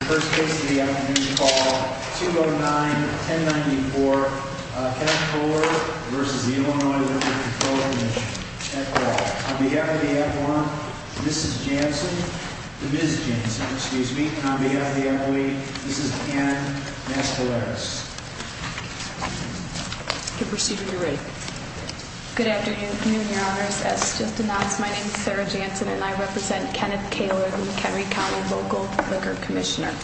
The first case of the afternoon is called 209-1094, Kenneth Koehler v. Illinois Liquor Control Commission, at law. On behalf of the adjoint, Mrs. Janssen, the Ms. Janssen, excuse me. And on behalf of the adjoint, Mrs. Ann Mascaleras. Proceed when you're ready. Good afternoon, your honors. As just announced, my name is Sarah Janssen and I represent Kenneth Koehler, the McHenry County Local Liquor Commissioner.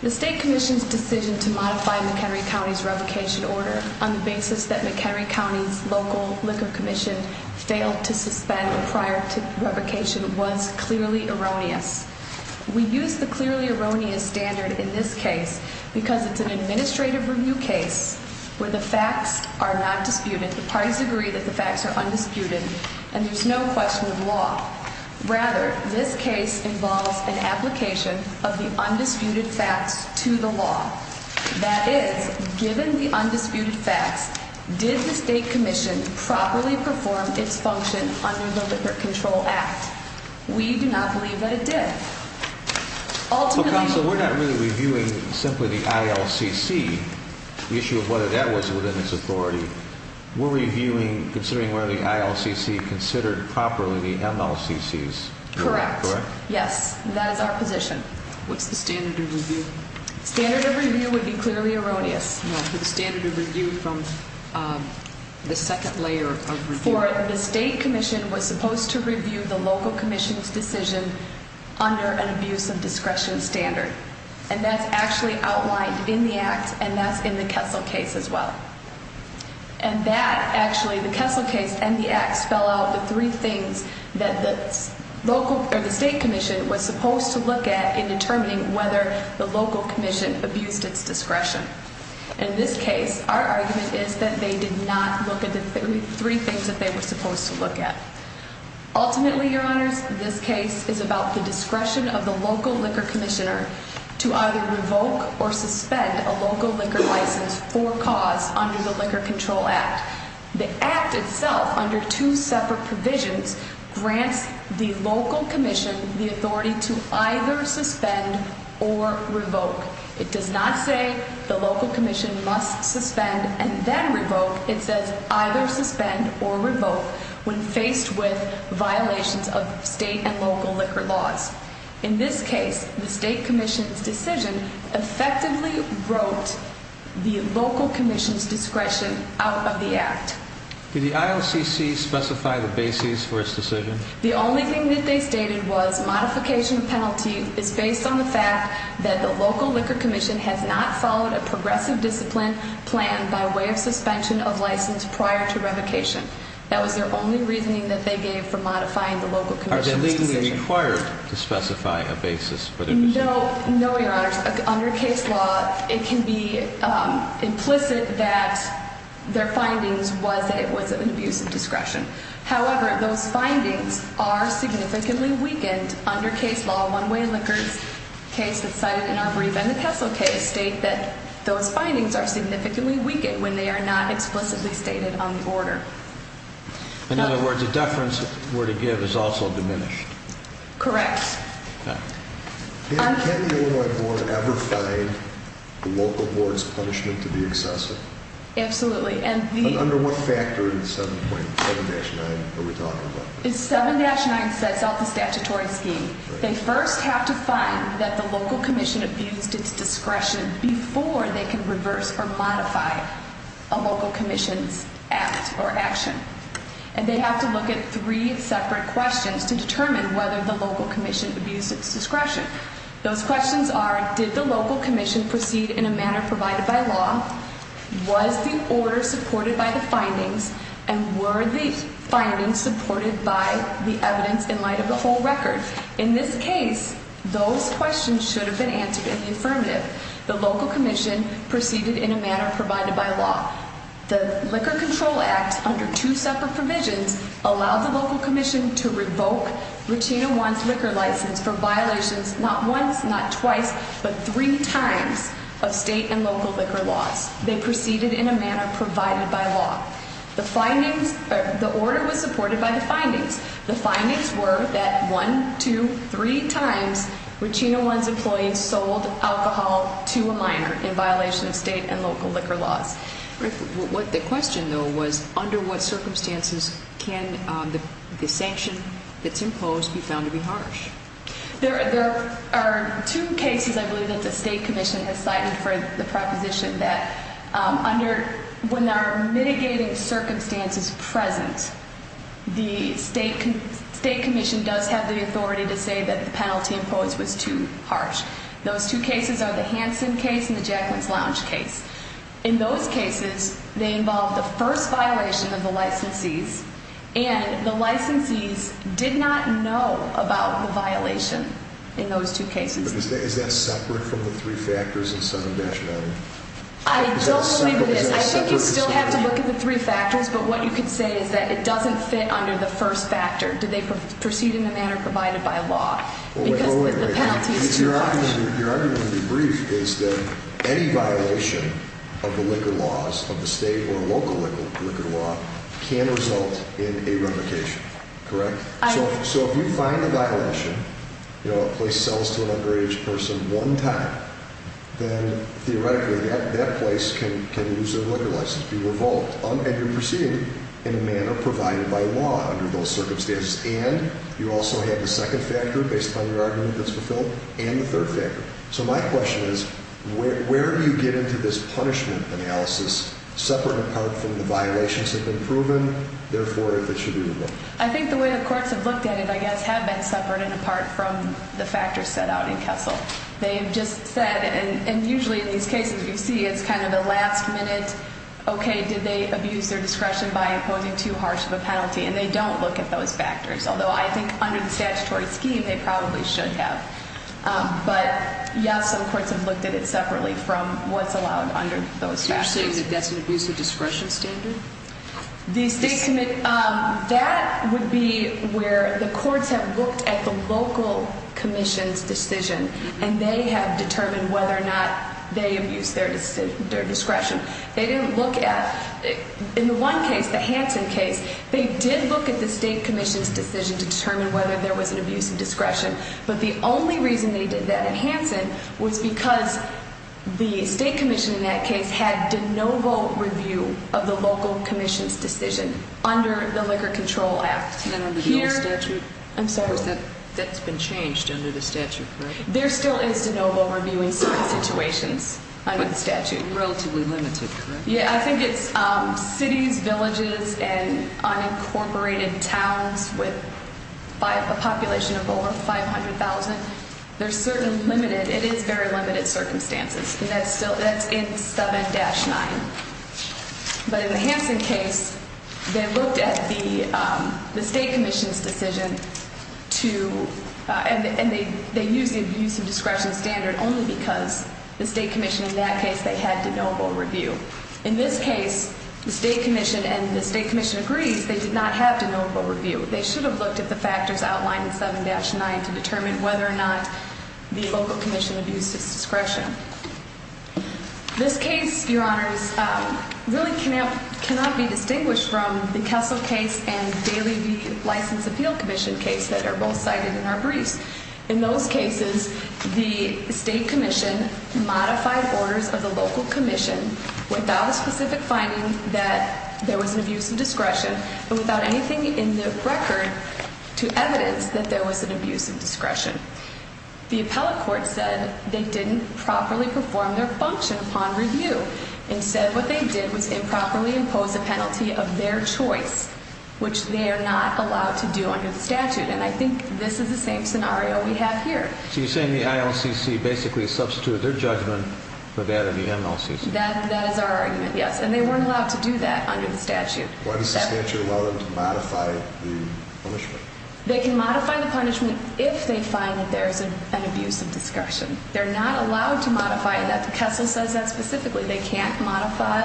The State Commission's decision to modify McHenry County's revocation order on the basis that McHenry County's Local Liquor Commission failed to suspend prior to revocation was clearly erroneous. We use the clearly erroneous standard in this case because it's an administrative review case where the facts are not disputed. The parties agree that the facts are undisputed and there's no question of law. Rather, this case involves an application of the undisputed facts to the law. That is, given the undisputed facts, did the State Commission properly perform its function under the Liquor Control Act? We do not believe that it did. Ultimately- Counsel, we're not really reviewing simply the ILCC, the issue of whether that was within its authority. We're reviewing, considering whether the ILCC considered properly the MLCCs. Correct. Yes, that is our position. What's the standard of review? Standard of review would be clearly erroneous. No, the standard of review from the second layer of review. The State Commission was supposed to review the Local Commission's decision under an abuse of discretion standard. And that's actually outlined in the Act and that's in the Kessel case as well. And that, actually, the Kessel case and the Act spell out the three things that the State Commission was supposed to look at in determining whether the Local Commission abused its discretion. In this case, our argument is that they did not look at the three things that they were supposed to look at. Ultimately, Your Honors, this case is about the discretion of the Local Liquor Commissioner to either revoke or suspend a local liquor license for cause under the Liquor Control Act. The Act itself, under two separate provisions, grants the Local Commission the authority to either suspend or revoke. It does not say the Local Commission must suspend and then revoke. It says either suspend or revoke when faced with violations of state and local liquor laws. In this case, the State Commission's decision effectively broke the Local Commission's discretion out of the Act. Did the ILCC specify the basis for its decision? The only thing that they stated was modification of penalty is based on the fact that the Local Liquor Commission has not followed a progressive discipline plan by way of suspension of license prior to revocation. That was their only reasoning that they gave for modifying the Local Commission's decision. Are they legally required to specify a basis for their decision? No, Your Honors. Under case law, it can be implicit that their findings was that it was an abuse of discretion. However, those findings are significantly weakened under case law. One-Way Liquor's case that's cited in our brief and the Tessel case state that those findings are significantly weakened when they are not explicitly stated on the order. In other words, the deference we're to give is also diminished. Correct. Can the Illinois Board ever find the Local Board's punishment to be excessive? Absolutely. Under what factor is 7-9? 7-9 sets out the statutory scheme. They first have to find that the Local Commission abused its discretion before they can reverse or modify a Local Commission's act or action. And they have to look at three separate questions to determine whether the Local Commission abused its discretion. Those questions are, did the Local Commission proceed in a manner provided by law? Was the order supported by the findings? And were the findings supported by the evidence in light of the whole record? In this case, those questions should have been answered in the affirmative. The Local Commission proceeded in a manner provided by law. The Liquor Control Act, under two separate provisions, allowed the Local Commission to revoke Ruchina One's liquor license for violations not once, not twice, but three times of state and local liquor laws. They proceeded in a manner provided by law. The order was supported by the findings. The findings were that one, two, three times Ruchina One's employees sold alcohol to a minor in violation of state and local liquor laws. The question, though, was under what circumstances can the sanction that's imposed be found to be harsh? There are two cases, I believe, that the State Commission has cited for the proposition that when there are mitigating circumstances present, the State Commission does have the authority to say that the penalty imposed was too harsh. Those two cases are the Hanson case and the Jackman's Lounge case. In those cases, they involve the first violation of the licensees, and the licensees did not know about the violation in those two cases. But is that separate from the three factors and some of the action? I don't believe it is. I think you still have to look at the three factors, but what you could say is that it doesn't fit under the first factor. Did they proceed in a manner provided by law? Because the penalty is too harsh. Your argument, to be brief, is that any violation of the liquor laws, of the state or local liquor law, can result in a revocation, correct? So if you find a violation, a place sells to an underage person one time, then theoretically that place can lose their liquor license, be revoked. And you're proceeding in a manner provided by law under those circumstances. And you also have the second factor, based on your argument that's fulfilled, and the third factor. So my question is, where do you get into this punishment analysis, separate in part from the violations that have been proven, therefore if it should be revoked? I think the way the courts have looked at it, I guess, have been separate and apart from the factors set out in Kessel. They have just said, and usually in these cases you see it's kind of a last minute, okay, did they abuse their discretion by imposing too harsh of a penalty? And they don't look at those factors. Although I think under the statutory scheme they probably should have. But yes, some courts have looked at it separately from what's allowed under those factors. You're saying that that's an abuse of discretion standard? That would be where the courts have looked at the local commission's decision. And they have determined whether or not they abused their discretion. They didn't look at, in the one case, the Hansen case, they did look at the state commission's decision to determine whether there was an abuse of discretion. But the only reason they did that in Hansen was because the state commission in that case had de novo review of the local commission's decision under the Liquor Control Act. And under the old statute? I'm sorry? That's been changed under the statute, correct? There still is de novo review in certain situations under the statute. Relatively limited, correct? Yeah, I think it's cities, villages, and unincorporated towns with a population of over 500,000. There's certain limited, it is very limited circumstances. And that's still, that's in 7-9. But in the Hansen case, they looked at the state commission's decision to, and they used the abuse of discretion standard only because the state commission in that case, they had de novo review. In this case, the state commission, and the state commission agrees, they did not have de novo review. They should have looked at the factors outlined in 7-9 to determine whether or not the local commission abused its discretion. This case, your honors, really cannot be distinguished from the Kessel case and Daly v. License Appeal Commission case that are both cited in our briefs. In those cases, the state commission modified orders of the local commission without a specific finding that there was an abuse of discretion and without anything in the record to evidence that there was an abuse of discretion. The appellate court said they didn't properly perform their function upon review. Instead, what they did was improperly impose a penalty of their choice, which they are not allowed to do under the statute. And I think this is the same scenario we have here. So you're saying the ILCC basically substituted their judgment for that of the MLCC? That is our argument, yes. And they weren't allowed to do that under the statute. Why does the statute allow them to modify the punishment? They can modify the punishment if they find that there is an abuse of discretion. They're not allowed to modify that. The Kessel says that specifically. They can't modify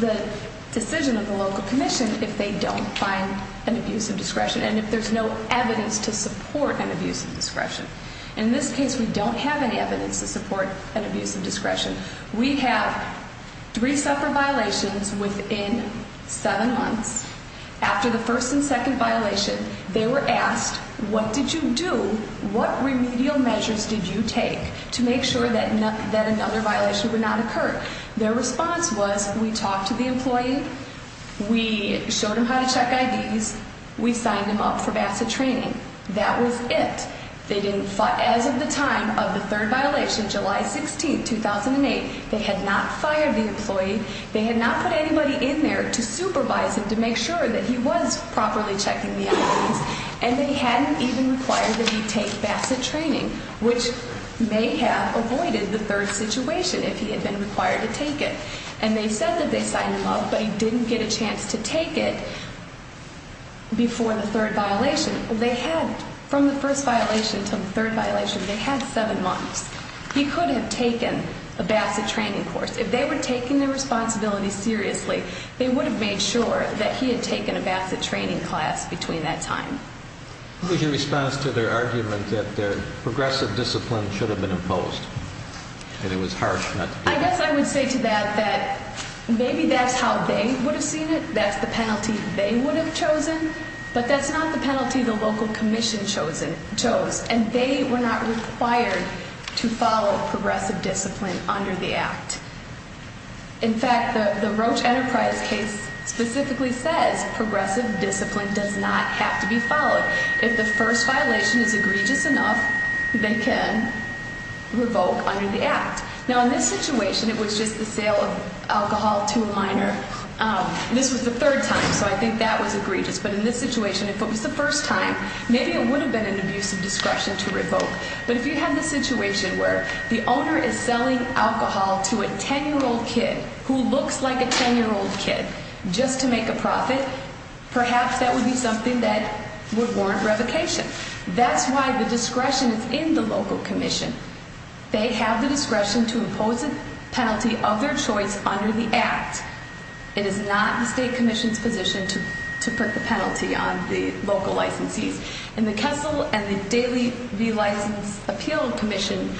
the decision of the local commission if they don't find an abuse of discretion and if there's no evidence to support an abuse of discretion. In this case, we don't have any evidence to support an abuse of discretion. We have three separate violations within seven months. After the first and second violation, they were asked, what did you do? What remedial measures did you take to make sure that another violation would not occur? Their response was, we talked to the employee, we showed them how to check IDs, we signed them up for VASA training. That was it. As of the time of the third violation, July 16, 2008, they had not fired the employee. They had not put anybody in there to supervise him to make sure that he was properly checking the IDs. And they hadn't even required that he take VASA training, which may have avoided the third situation if he had been required to take it. And they said that they signed him up, but he didn't get a chance to take it before the third violation. They had, from the first violation to the third violation, they had seven months. He could have taken a VASA training course. If they were taking their responsibility seriously, they would have made sure that he had taken a VASA training class between that time. What was your response to their argument that their progressive discipline should have been imposed and it was harsh not to do that? I guess I would say to that that maybe that's how they would have seen it. That's the penalty they would have chosen, but that's not the penalty the local commission chose. And they were not required to follow progressive discipline under the Act. In fact, the Roche Enterprise case specifically says progressive discipline does not have to be followed. If the first violation is egregious enough, they can revoke under the Act. Now, in this situation, it was just the sale of alcohol to a minor. This was the third time, so I think that was egregious. But in this situation, if it was the first time, maybe it would have been an abuse of discretion to revoke. But if you had a situation where the owner is selling alcohol to a 10-year-old kid who looks like a 10-year-old kid just to make a profit, perhaps that would be something that would warrant revocation. That's why the discretion is in the local commission. They have the discretion to impose a penalty of their choice under the Act. It is not the state commission's position to put the penalty on the local licensees. And the Kessel and the Daily V-License Appeal Commission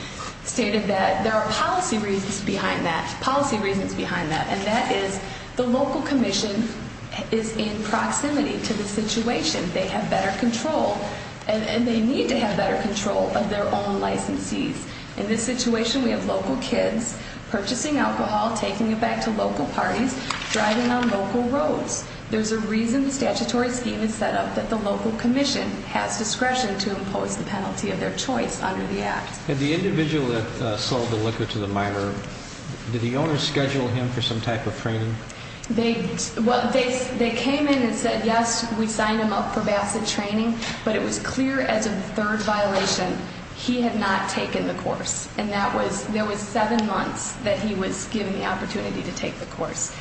stated that there are policy reasons behind that, policy reasons behind that, and that is the local commission is in proximity to the situation. They have better control, and they need to have better control of their own licensees. In this situation, we have local kids purchasing alcohol, taking it back to local parties, driving on local roads. There's a reason the statutory scheme is set up that the local commission has discretion to impose the penalty of their choice under the Act. The individual that sold the liquor to the minor, did the owner schedule him for some type of training? They came in and said, yes, we signed him up for Bassett training, but it was clear as a third violation he had not taken the course. And that was, there was seven months that he was given the opportunity to take the course.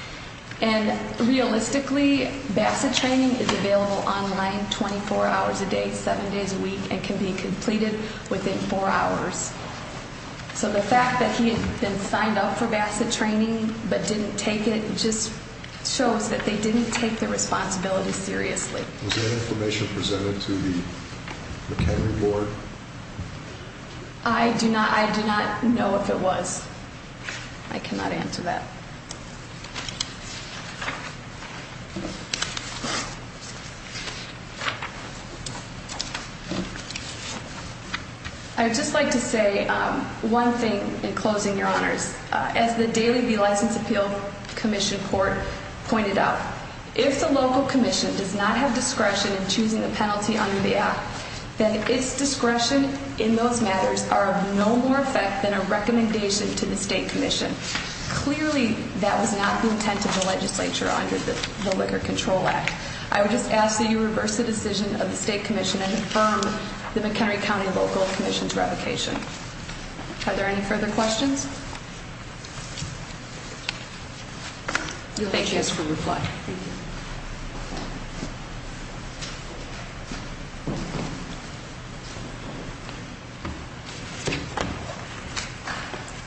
And realistically, Bassett training is available online 24 hours a day, seven days a week, and can be completed within four hours. So the fact that he had been signed up for Bassett training but didn't take it just shows that they didn't take the responsibility seriously. Was any information presented to the McHenry board? I do not, I do not know if it was. I cannot answer that. I would just like to say one thing in closing, Your Honors. As the Daily Be Licensed Appeal Commission board pointed out, if the local commission does not have discretion in choosing the penalty under the Act, then its discretion in those matters are of no more effect than a recommendation to the state commission. Clearly, that was not the intent of the legislature under the Liquor Control Act. I would just ask that you reverse the decision of the state commission and affirm the McHenry County local commission's revocation. Are there any further questions? Thank you for your time. Thank you.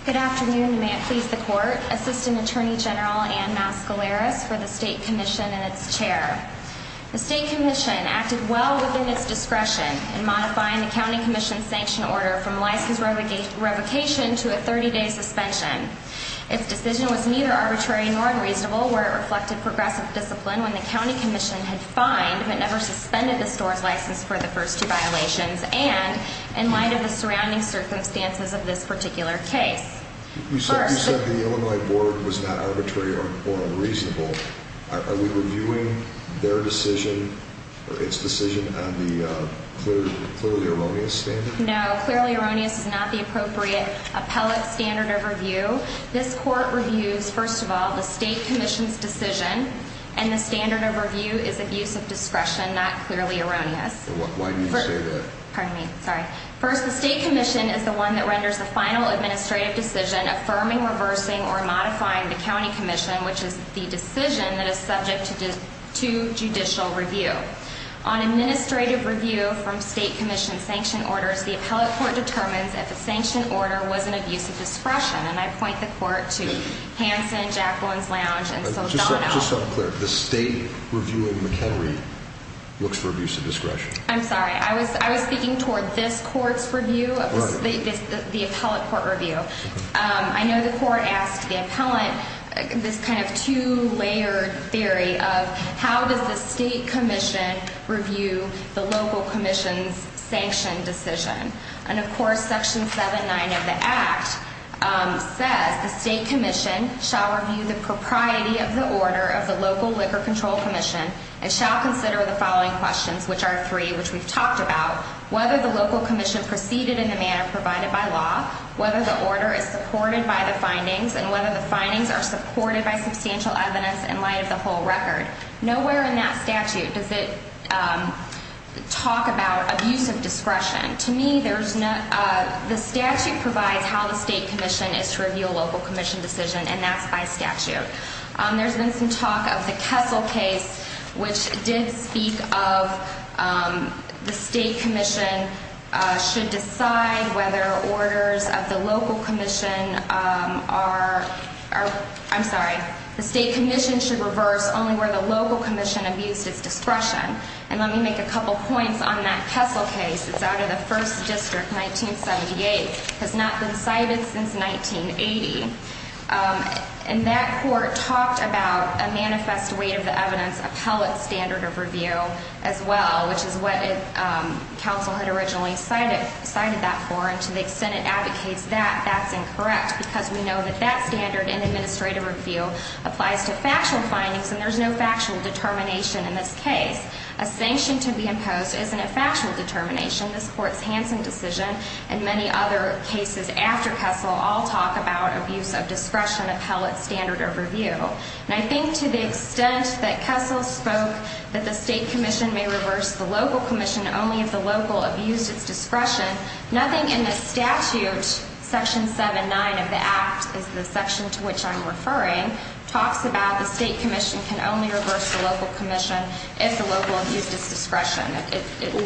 Good afternoon, and may it please the court. Assistant Attorney General Ann Mascaleras for the state commission and its chair. The state commission acted well within its discretion in modifying the county commission's sanction order from license revocation to a 30-day suspension. Its decision was neither arbitrary nor unreasonable, where it reflected progressive discipline when the county commission had fined but never suspended the store's license for the first two violations, and in light of the surrounding circumstances of this particular case. You said the Illinois board was not arbitrary or unreasonable. Are we reviewing their decision, or its decision, on the clearly erroneous standard? No, clearly erroneous is not the appropriate appellate standard of review. This court reviews, first of all, the state commission's decision, and the standard of review is abuse of discretion, not clearly erroneous. Why do you say that? First, the state commission is the one that renders the final administrative decision affirming, reversing, or modifying the county commission, which is the decision that is subject to judicial review. On administrative review from state commission sanction orders, the appellate court determines if a sanction order was an abuse of discretion, and I point the court to Hanson, Jacqueline's Lounge, and Saldana. Just so I'm clear, the state reviewing McHenry looks for abuse of discretion? I'm sorry. I was speaking toward this court's review, the appellate court review. I know the court asked the appellant this kind of two-layered theory of how does the state commission review the local commission's sanction decision? And, of course, Section 7-9 of the Act says the state commission shall review the propriety of the order of the local liquor control commission and shall consider the following questions, which are three, which we've talked about, whether the local commission proceeded in the manner provided by law, whether the order is supported by the findings, and whether the findings are supported by substantial evidence in light of the whole record. Nowhere in that statute does it talk about abuse of discretion. To me, the statute provides how the state commission is to review a local commission decision, and that's by statute. There's been some talk of the Kessel case, which did speak of the state commission should decide whether orders of the local commission are, I'm sorry, the state commission should reverse only where the local commission abused its discretion. And let me make a couple points on that Kessel case. It's out of the First District, 1978. It has not been cited since 1980. And that court talked about a manifest weight of the evidence appellate standard of review as well, which is what counsel had originally cited that for, and to the extent it advocates that, that's incorrect, because we know that that standard in administrative review applies to factual findings, and there's no factual determination in this case. A sanction to be imposed isn't a factual determination. This Court's Hansen decision and many other cases after Kessel all talk about abuse of discretion appellate standard of review. And I think to the extent that Kessel spoke that the state commission may reverse the local commission only if the local abused its discretion, nothing in the statute, Section 7-9 of the Act is the section to which I'm referring, talks about the state commission can only reverse the local commission if the local abused its discretion.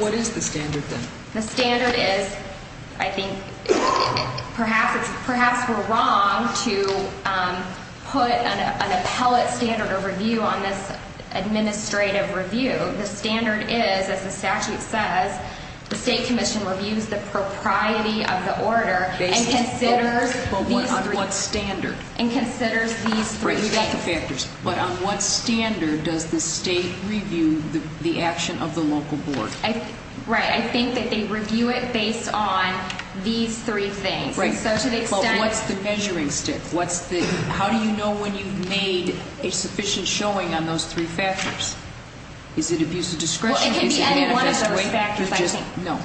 What is the standard, then? The standard is, I think, perhaps we're wrong to put an appellate standard of review on this administrative review. The standard is, as the statute says, the state commission reviews the propriety of the order and considers these three things. But on what standard? And considers these three things. Right. I think that they review it based on these three things. Right. But what's the measuring stick? How do you know when you've made a sufficient showing on those three factors? Is it abuse of discretion? Well, it can be any one of those factors, I think. No.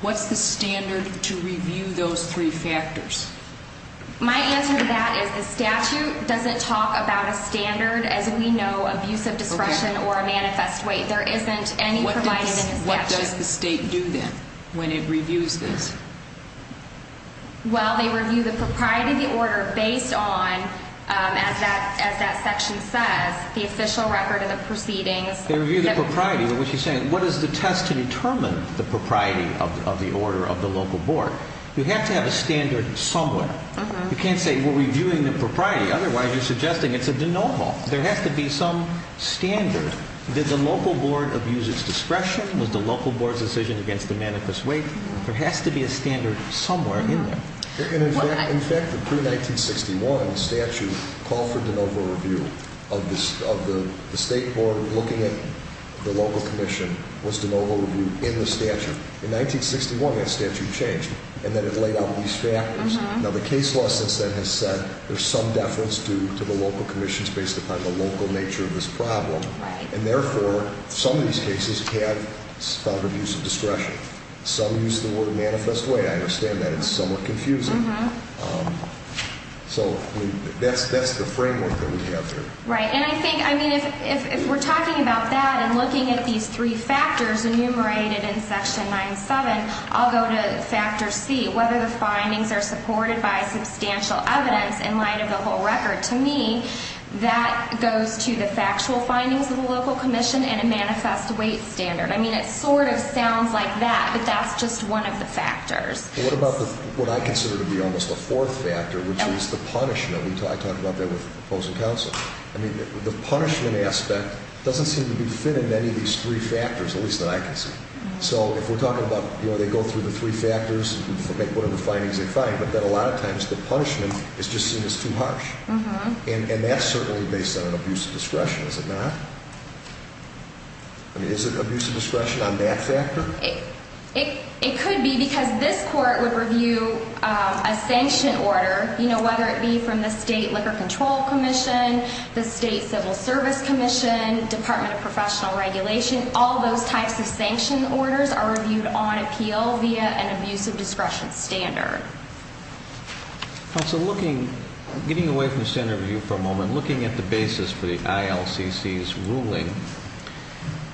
What's the standard to review those three factors? My answer to that is the statute doesn't talk about a standard, as we know, abuse of discretion or a manifest weight. There isn't any provided in the statute. What does the state do, then, when it reviews this? Well, they review the propriety of the order based on, as that section says, the official record of the proceedings. They review the propriety of what you're saying. What is the test to determine the propriety of the order of the local board? You have to have a standard somewhere. You can't say we're reviewing the propriety. Otherwise, you're suggesting it's a de novo. There has to be some standard. Did the local board abuse its discretion? Was the local board's decision against the manifest weight? There has to be a standard somewhere in there. In fact, the pre-1961 statute called for de novo review of the state board looking at the local commission. Was de novo review in the statute? In 1961, that statute changed, and then it laid out these factors. Now, the case law, since then, has said there's some deference due to the local commissions based upon the local nature of this problem. And therefore, some of these cases have found abuse of discretion. Some use the word manifest weight. I understand that. It's somewhat confusing. So that's the framework that we have here. Right. And I think, I mean, if we're talking about that and looking at these three factors enumerated in Section 9-7, I'll go to Factor C, whether the findings are supported by substantial evidence in light of the whole record. To me, that goes to the factual findings of the local commission and a manifest weight standard. I mean, it sort of sounds like that, but that's just one of the factors. What about what I consider to be almost the fourth factor, which is the punishment? I talked about that with opposing counsel. I mean, the punishment aspect doesn't seem to be fit in any of these three factors, at least that I can see. So if we're talking about, you know, they go through the three factors and look at what are the findings they find, but then a lot of times the punishment is just seen as too harsh. And that's certainly based on an abuse of discretion, is it not? I mean, is it abuse of discretion on that factor? It could be because this court would review a sanction order, you know, whether it be from the State Liquor Control Commission, the State Civil Service Commission, Department of Professional Regulation, all those types of sanction orders are reviewed on appeal via an abuse of discretion standard. Counsel, looking, getting away from standard review for a moment, looking at the basis for the ILCC's ruling,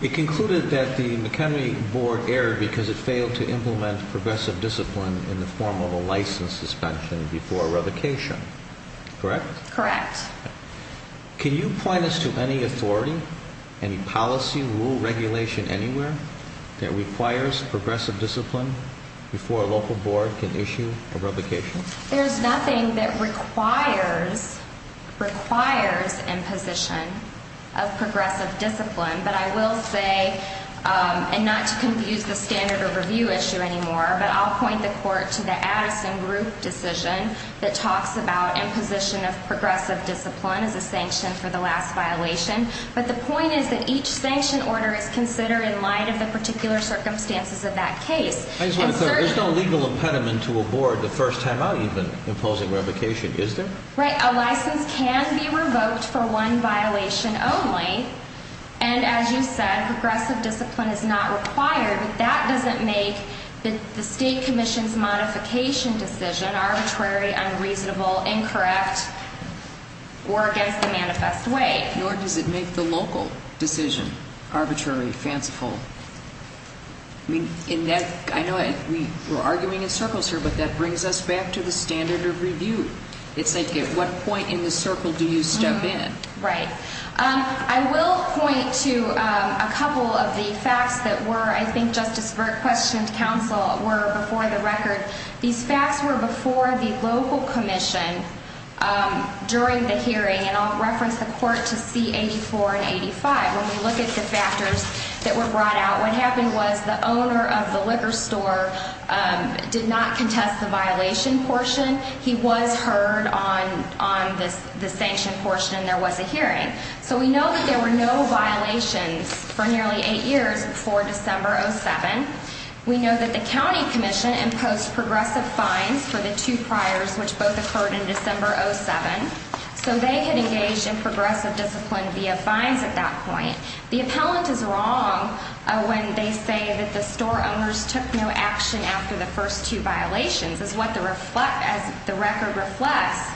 it concluded that the McHenry board erred because it failed to implement progressive discipline in the form of a license suspension before revocation, correct? Correct. Can you point us to any authority, any policy, rule, regulation anywhere that requires progressive discipline before a local board can issue a revocation? There's nothing that requires imposition of progressive discipline. But I will say, and not to confuse the standard of review issue anymore, but I'll point the court to the Addison Group decision that talks about imposition of progressive discipline as a sanction for the last violation. But the point is that each sanction order is considered in light of the particular circumstances of that case. There's no legal impediment to a board the first time out even imposing revocation, is there? Right. A license can be revoked for one violation only. And as you said, progressive discipline is not required. But that doesn't make the state commission's modification decision arbitrary, unreasonable, incorrect, or against the manifest way. Nor does it make the local decision arbitrary, fanciful. I mean, in that, I know we're arguing in circles here, but that brings us back to the standard of review. It's like at what point in the circle do you step in? Right. I will point to a couple of the facts that were, I think Justice Burke questioned counsel, were before the record. These facts were before the local commission during the hearing. And I'll reference the court to C-84 and 85. When we look at the factors that were brought out, what happened was the owner of the liquor store did not contest the violation portion. He was heard on the sanction portion and there was a hearing. So we know that there were no violations for nearly eight years before December 07. We know that the county commission imposed progressive fines for the two priors, which both occurred in December 07. So they had engaged in progressive discipline via fines at that point. The appellant is wrong when they say that the store owners took no action after the first two violations. As the record reflects,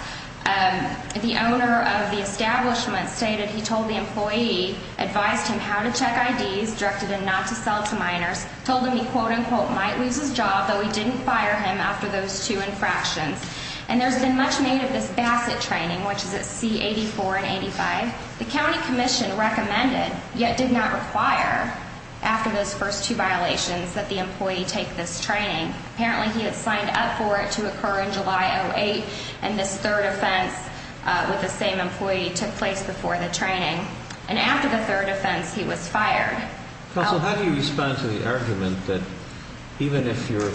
the owner of the establishment stated he told the employee, advised him how to check IDs, directed him not to sell to minors, told him he, quote, unquote, might lose his job, though he didn't fire him after those two infractions. And there's been much made of this Bassett training, which is at C-84 and 85. The county commission recommended, yet did not require, after those first two violations that the employee take this training. Apparently, he had signed up for it to occur in July 08, and this third offense with the same employee took place before the training. And after the third offense, he was fired. Counsel, how do you respond to the argument that even if you're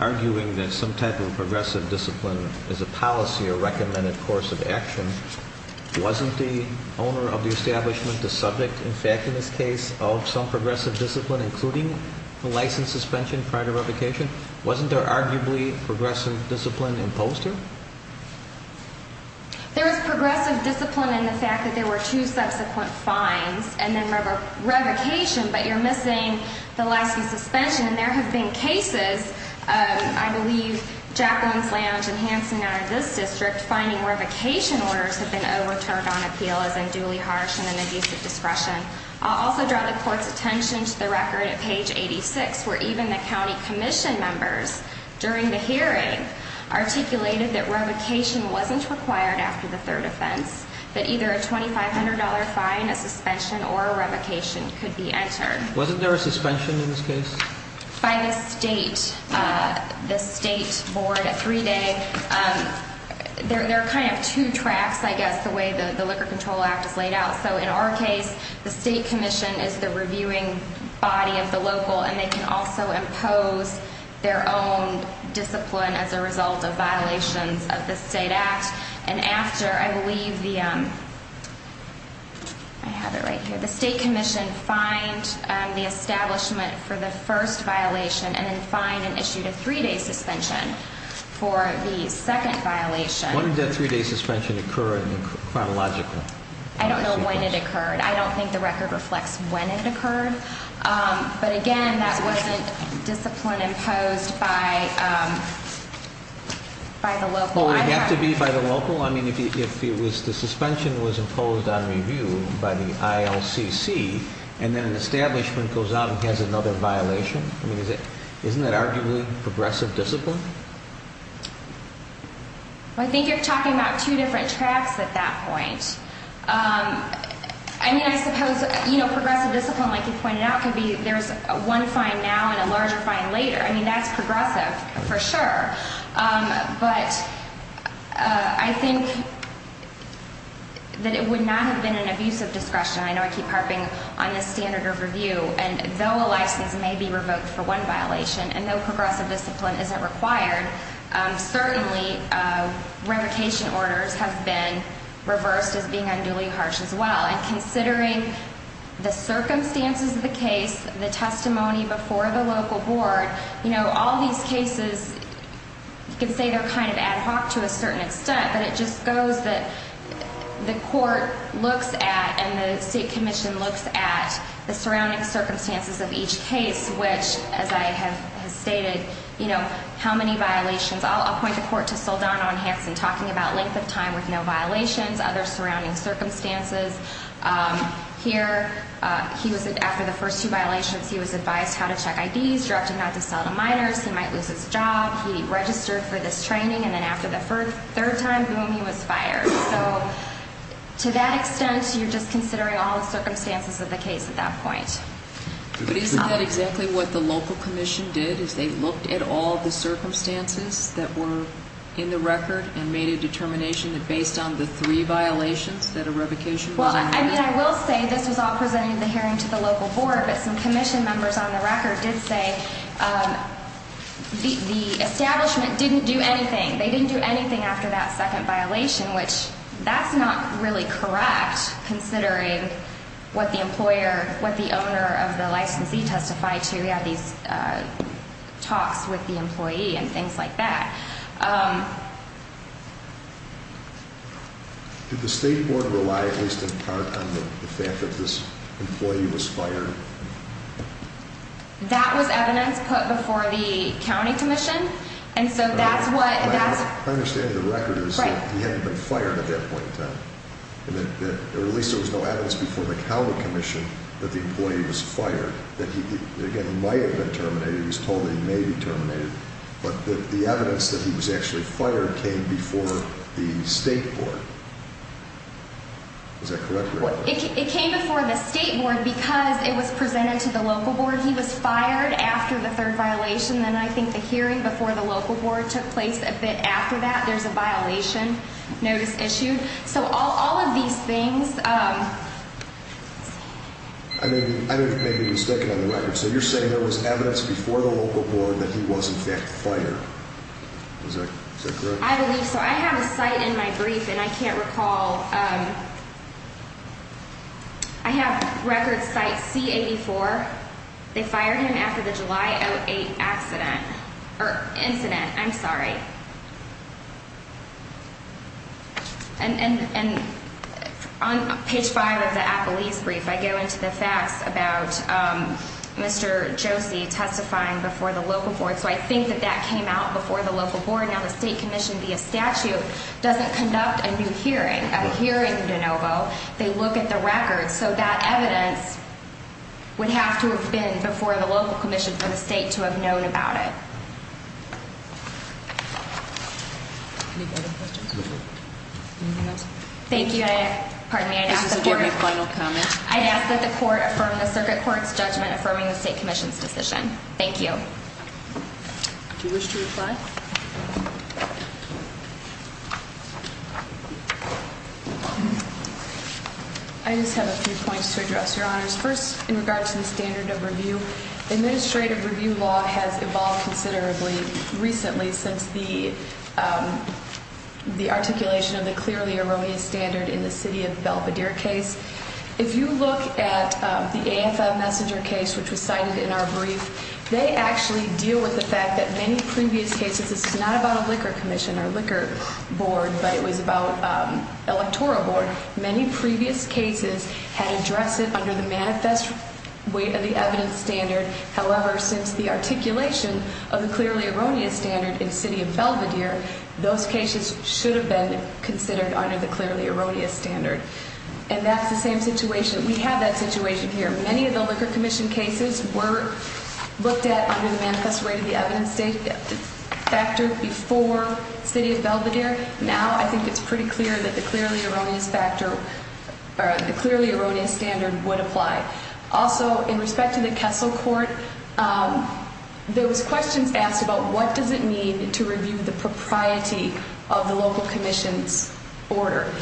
arguing that some type of progressive discipline is a policy or recommended course of action, wasn't the owner of the establishment the subject, in fact, in this case, of some progressive discipline, including the license suspension prior to revocation? Wasn't there arguably progressive discipline imposed here? There was progressive discipline in the fact that there were two subsequent fines and then revocation, but you're missing the license suspension. And there have been cases, I believe, Jacqueline's Lounge and Hanson out of this district, finding revocation orders have been overturned on appeal as unduly harsh and an abuse of discretion. I'll also draw the court's attention to the record at page 86, where even the county commission members, during the hearing, articulated that revocation wasn't required after the third offense, that either a $2,500 fine, a suspension, or a revocation could be entered. Wasn't there a suspension in this case? By the state, the state board, a three-day. There are kind of two tracks, I guess, the way the Liquor Control Act is laid out. So in our case, the state commission is the reviewing body of the local, and they can also impose their own discipline as a result of violations of the state act. And after, I believe, the state commission fined the establishment for the first violation and then fined and issued a three-day suspension for the second violation. When did that three-day suspension occur chronologically? I don't know when it occurred. I don't think the record reflects when it occurred. But again, that wasn't discipline imposed by the local. Well, would it have to be by the local? I mean, if the suspension was imposed on review by the ILCC and then an establishment goes out and has another violation, isn't that arguably progressive discipline? I think you're talking about two different tracks at that point. I mean, I suppose progressive discipline, like you pointed out, could be there's one fine now and a larger fine later. I mean, that's progressive for sure. But I think that it would not have been an abuse of discretion. I know I keep harping on this standard of review. And though a license may be revoked for one violation and no progressive discipline isn't required, certainly revocation orders have been reversed as being unduly harsh as well. And considering the circumstances of the case, the testimony before the local board, all these cases, you can say they're kind of ad hoc to a certain extent, but it just goes that the court looks at and the state commission looks at the surrounding circumstances of each case, which, as I have stated, how many violations. I'll point the court to Saldana on Hanson talking about length of time with no violations, other surrounding circumstances. Here, after the first two violations, he was advised how to check IDs, he was directed not to sell to minors, he might lose his job, he registered for this training, and then after the third time, boom, he was fired. So to that extent, you're just considering all the circumstances of the case at that point. But isn't that exactly what the local commission did, is they looked at all the circumstances that were in the record and made a determination that based on the three violations that a revocation was amended? Well, I mean, I will say this was all presented in the hearing to the local board, but some commission members on the record did say the establishment didn't do anything. They didn't do anything after that second violation, which that's not really correct considering what the employer, what the owner of the licensee testified to. We have these talks with the employee and things like that. Did the state board rely at least in part on the fact that this employee was fired? That was evidence put before the county commission. My understanding of the record is that he hadn't been fired at that point in time, or at least there was no evidence before the county commission that the employee was fired. Again, he might have been terminated, he was told he may be terminated, but the evidence that he was actually fired came before the state board. Is that correct? It came before the state board because it was presented to the local board. He was fired after the third violation, and I think the hearing before the local board took place a bit after that. There's a violation notice issued. So all of these things... I may be mistaken on the record. So you're saying there was evidence before the local board that he was, in fact, fired. Is that correct? I believe so. I have a cite in my brief, and I can't recall. I have record cite C-84. They fired him after the July 08 accident, or incident. I'm sorry. And on page 5 of the Appelese brief, I go into the facts about Mr. Josie testifying before the local board. So I think that that came out before the local board. Now, the state commission, via statute, doesn't conduct a new hearing. At a hearing in DeNovo, they look at the records. So that evidence would have to have been before the local commission for the state to have known about it. Any further questions? Anything else? Thank you. Pardon me. I'd ask that the court... This is a general final comment. I'd ask that the court affirm the circuit court's judgment affirming the state commission's decision. Thank you. Do you wish to reply? I just have a few points to address, Your Honors. First, in regard to the standard of review, administrative review law has evolved considerably recently since the articulation of the clearly erroneous standard in the city of Belvedere case. If you look at the AFM messenger case, which was cited in our brief, they actually deal with the fact that many previous cases... This is not about a liquor commission or liquor board, but it was about electoral board. Many previous cases had addressed it under the manifest weight of the evidence standard. However, since the articulation of the clearly erroneous standard in the city of Belvedere, those cases should have been considered under the clearly erroneous standard. And that's the same situation. We have that situation here. Many of the liquor commission cases were looked at under the manifest weight of the evidence factor before the city of Belvedere. Now, I think it's pretty clear that the clearly erroneous standard would apply. Also, in respect to the Kessel Court, there was questions asked about what does it mean to review the propriety of the local commission's order.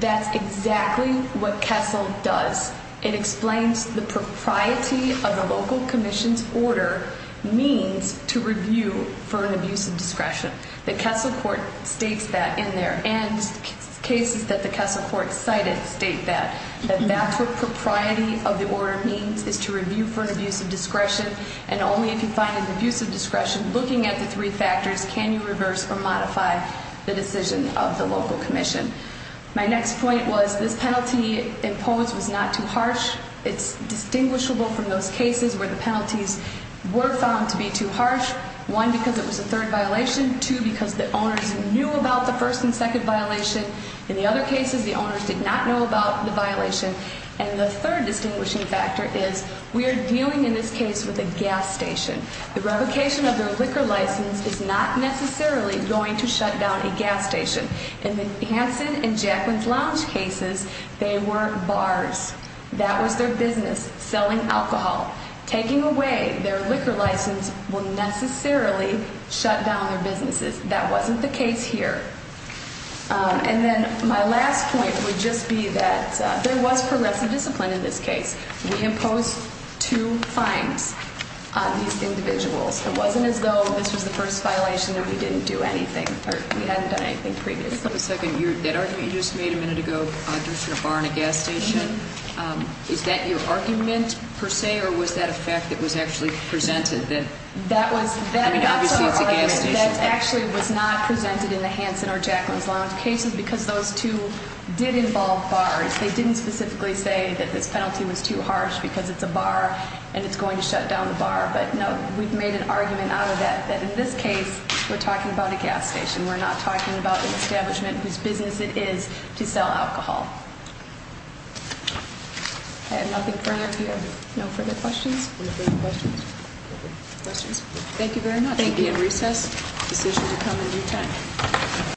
That's exactly what Kessel does. It explains the propriety of the local commission's order means to review for an abuse of discretion. The Kessel Court states that in there. And cases that the Kessel Court cited state that. That that's what propriety of the order means, is to review for an abuse of discretion. And only if you find an abuse of discretion, looking at the three factors, can you reverse or modify the decision of the local commission. My next point was this penalty imposed was not too harsh. It's distinguishable from those cases where the penalties were found to be too harsh. One, because it was a third violation. Two, because the owners knew about the first and second violation. In the other cases, the owners did not know about the violation. And the third distinguishing factor is we are dealing in this case with a gas station. The revocation of their liquor license is not necessarily going to shut down a gas station. In the Hanson and Jacqueline's Lounge cases, they were bars. That was their business, selling alcohol. Taking away their liquor license will necessarily shut down their businesses. That wasn't the case here. And then my last point would just be that there was progressive discipline in this case. We imposed two fines on these individuals. It wasn't as though this was the first violation and we didn't do anything. We hadn't done anything previously. Just for a second, that argument you just made a minute ago, a bar and a gas station, is that your argument, per se, or was that a fact that was actually presented? I mean, obviously it's a gas station. That actually was not presented in the Hanson or Jacqueline's Lounge cases because those two did involve bars. They didn't specifically say that this penalty was too harsh because it's a bar and it's going to shut down the bar. But, no, we've made an argument out of that that in this case we're talking about a gas station. We're not talking about an establishment whose business it is to sell alcohol. I have nothing further. No further questions? Thank you very much. Thank you. At recess, decision to come in due time.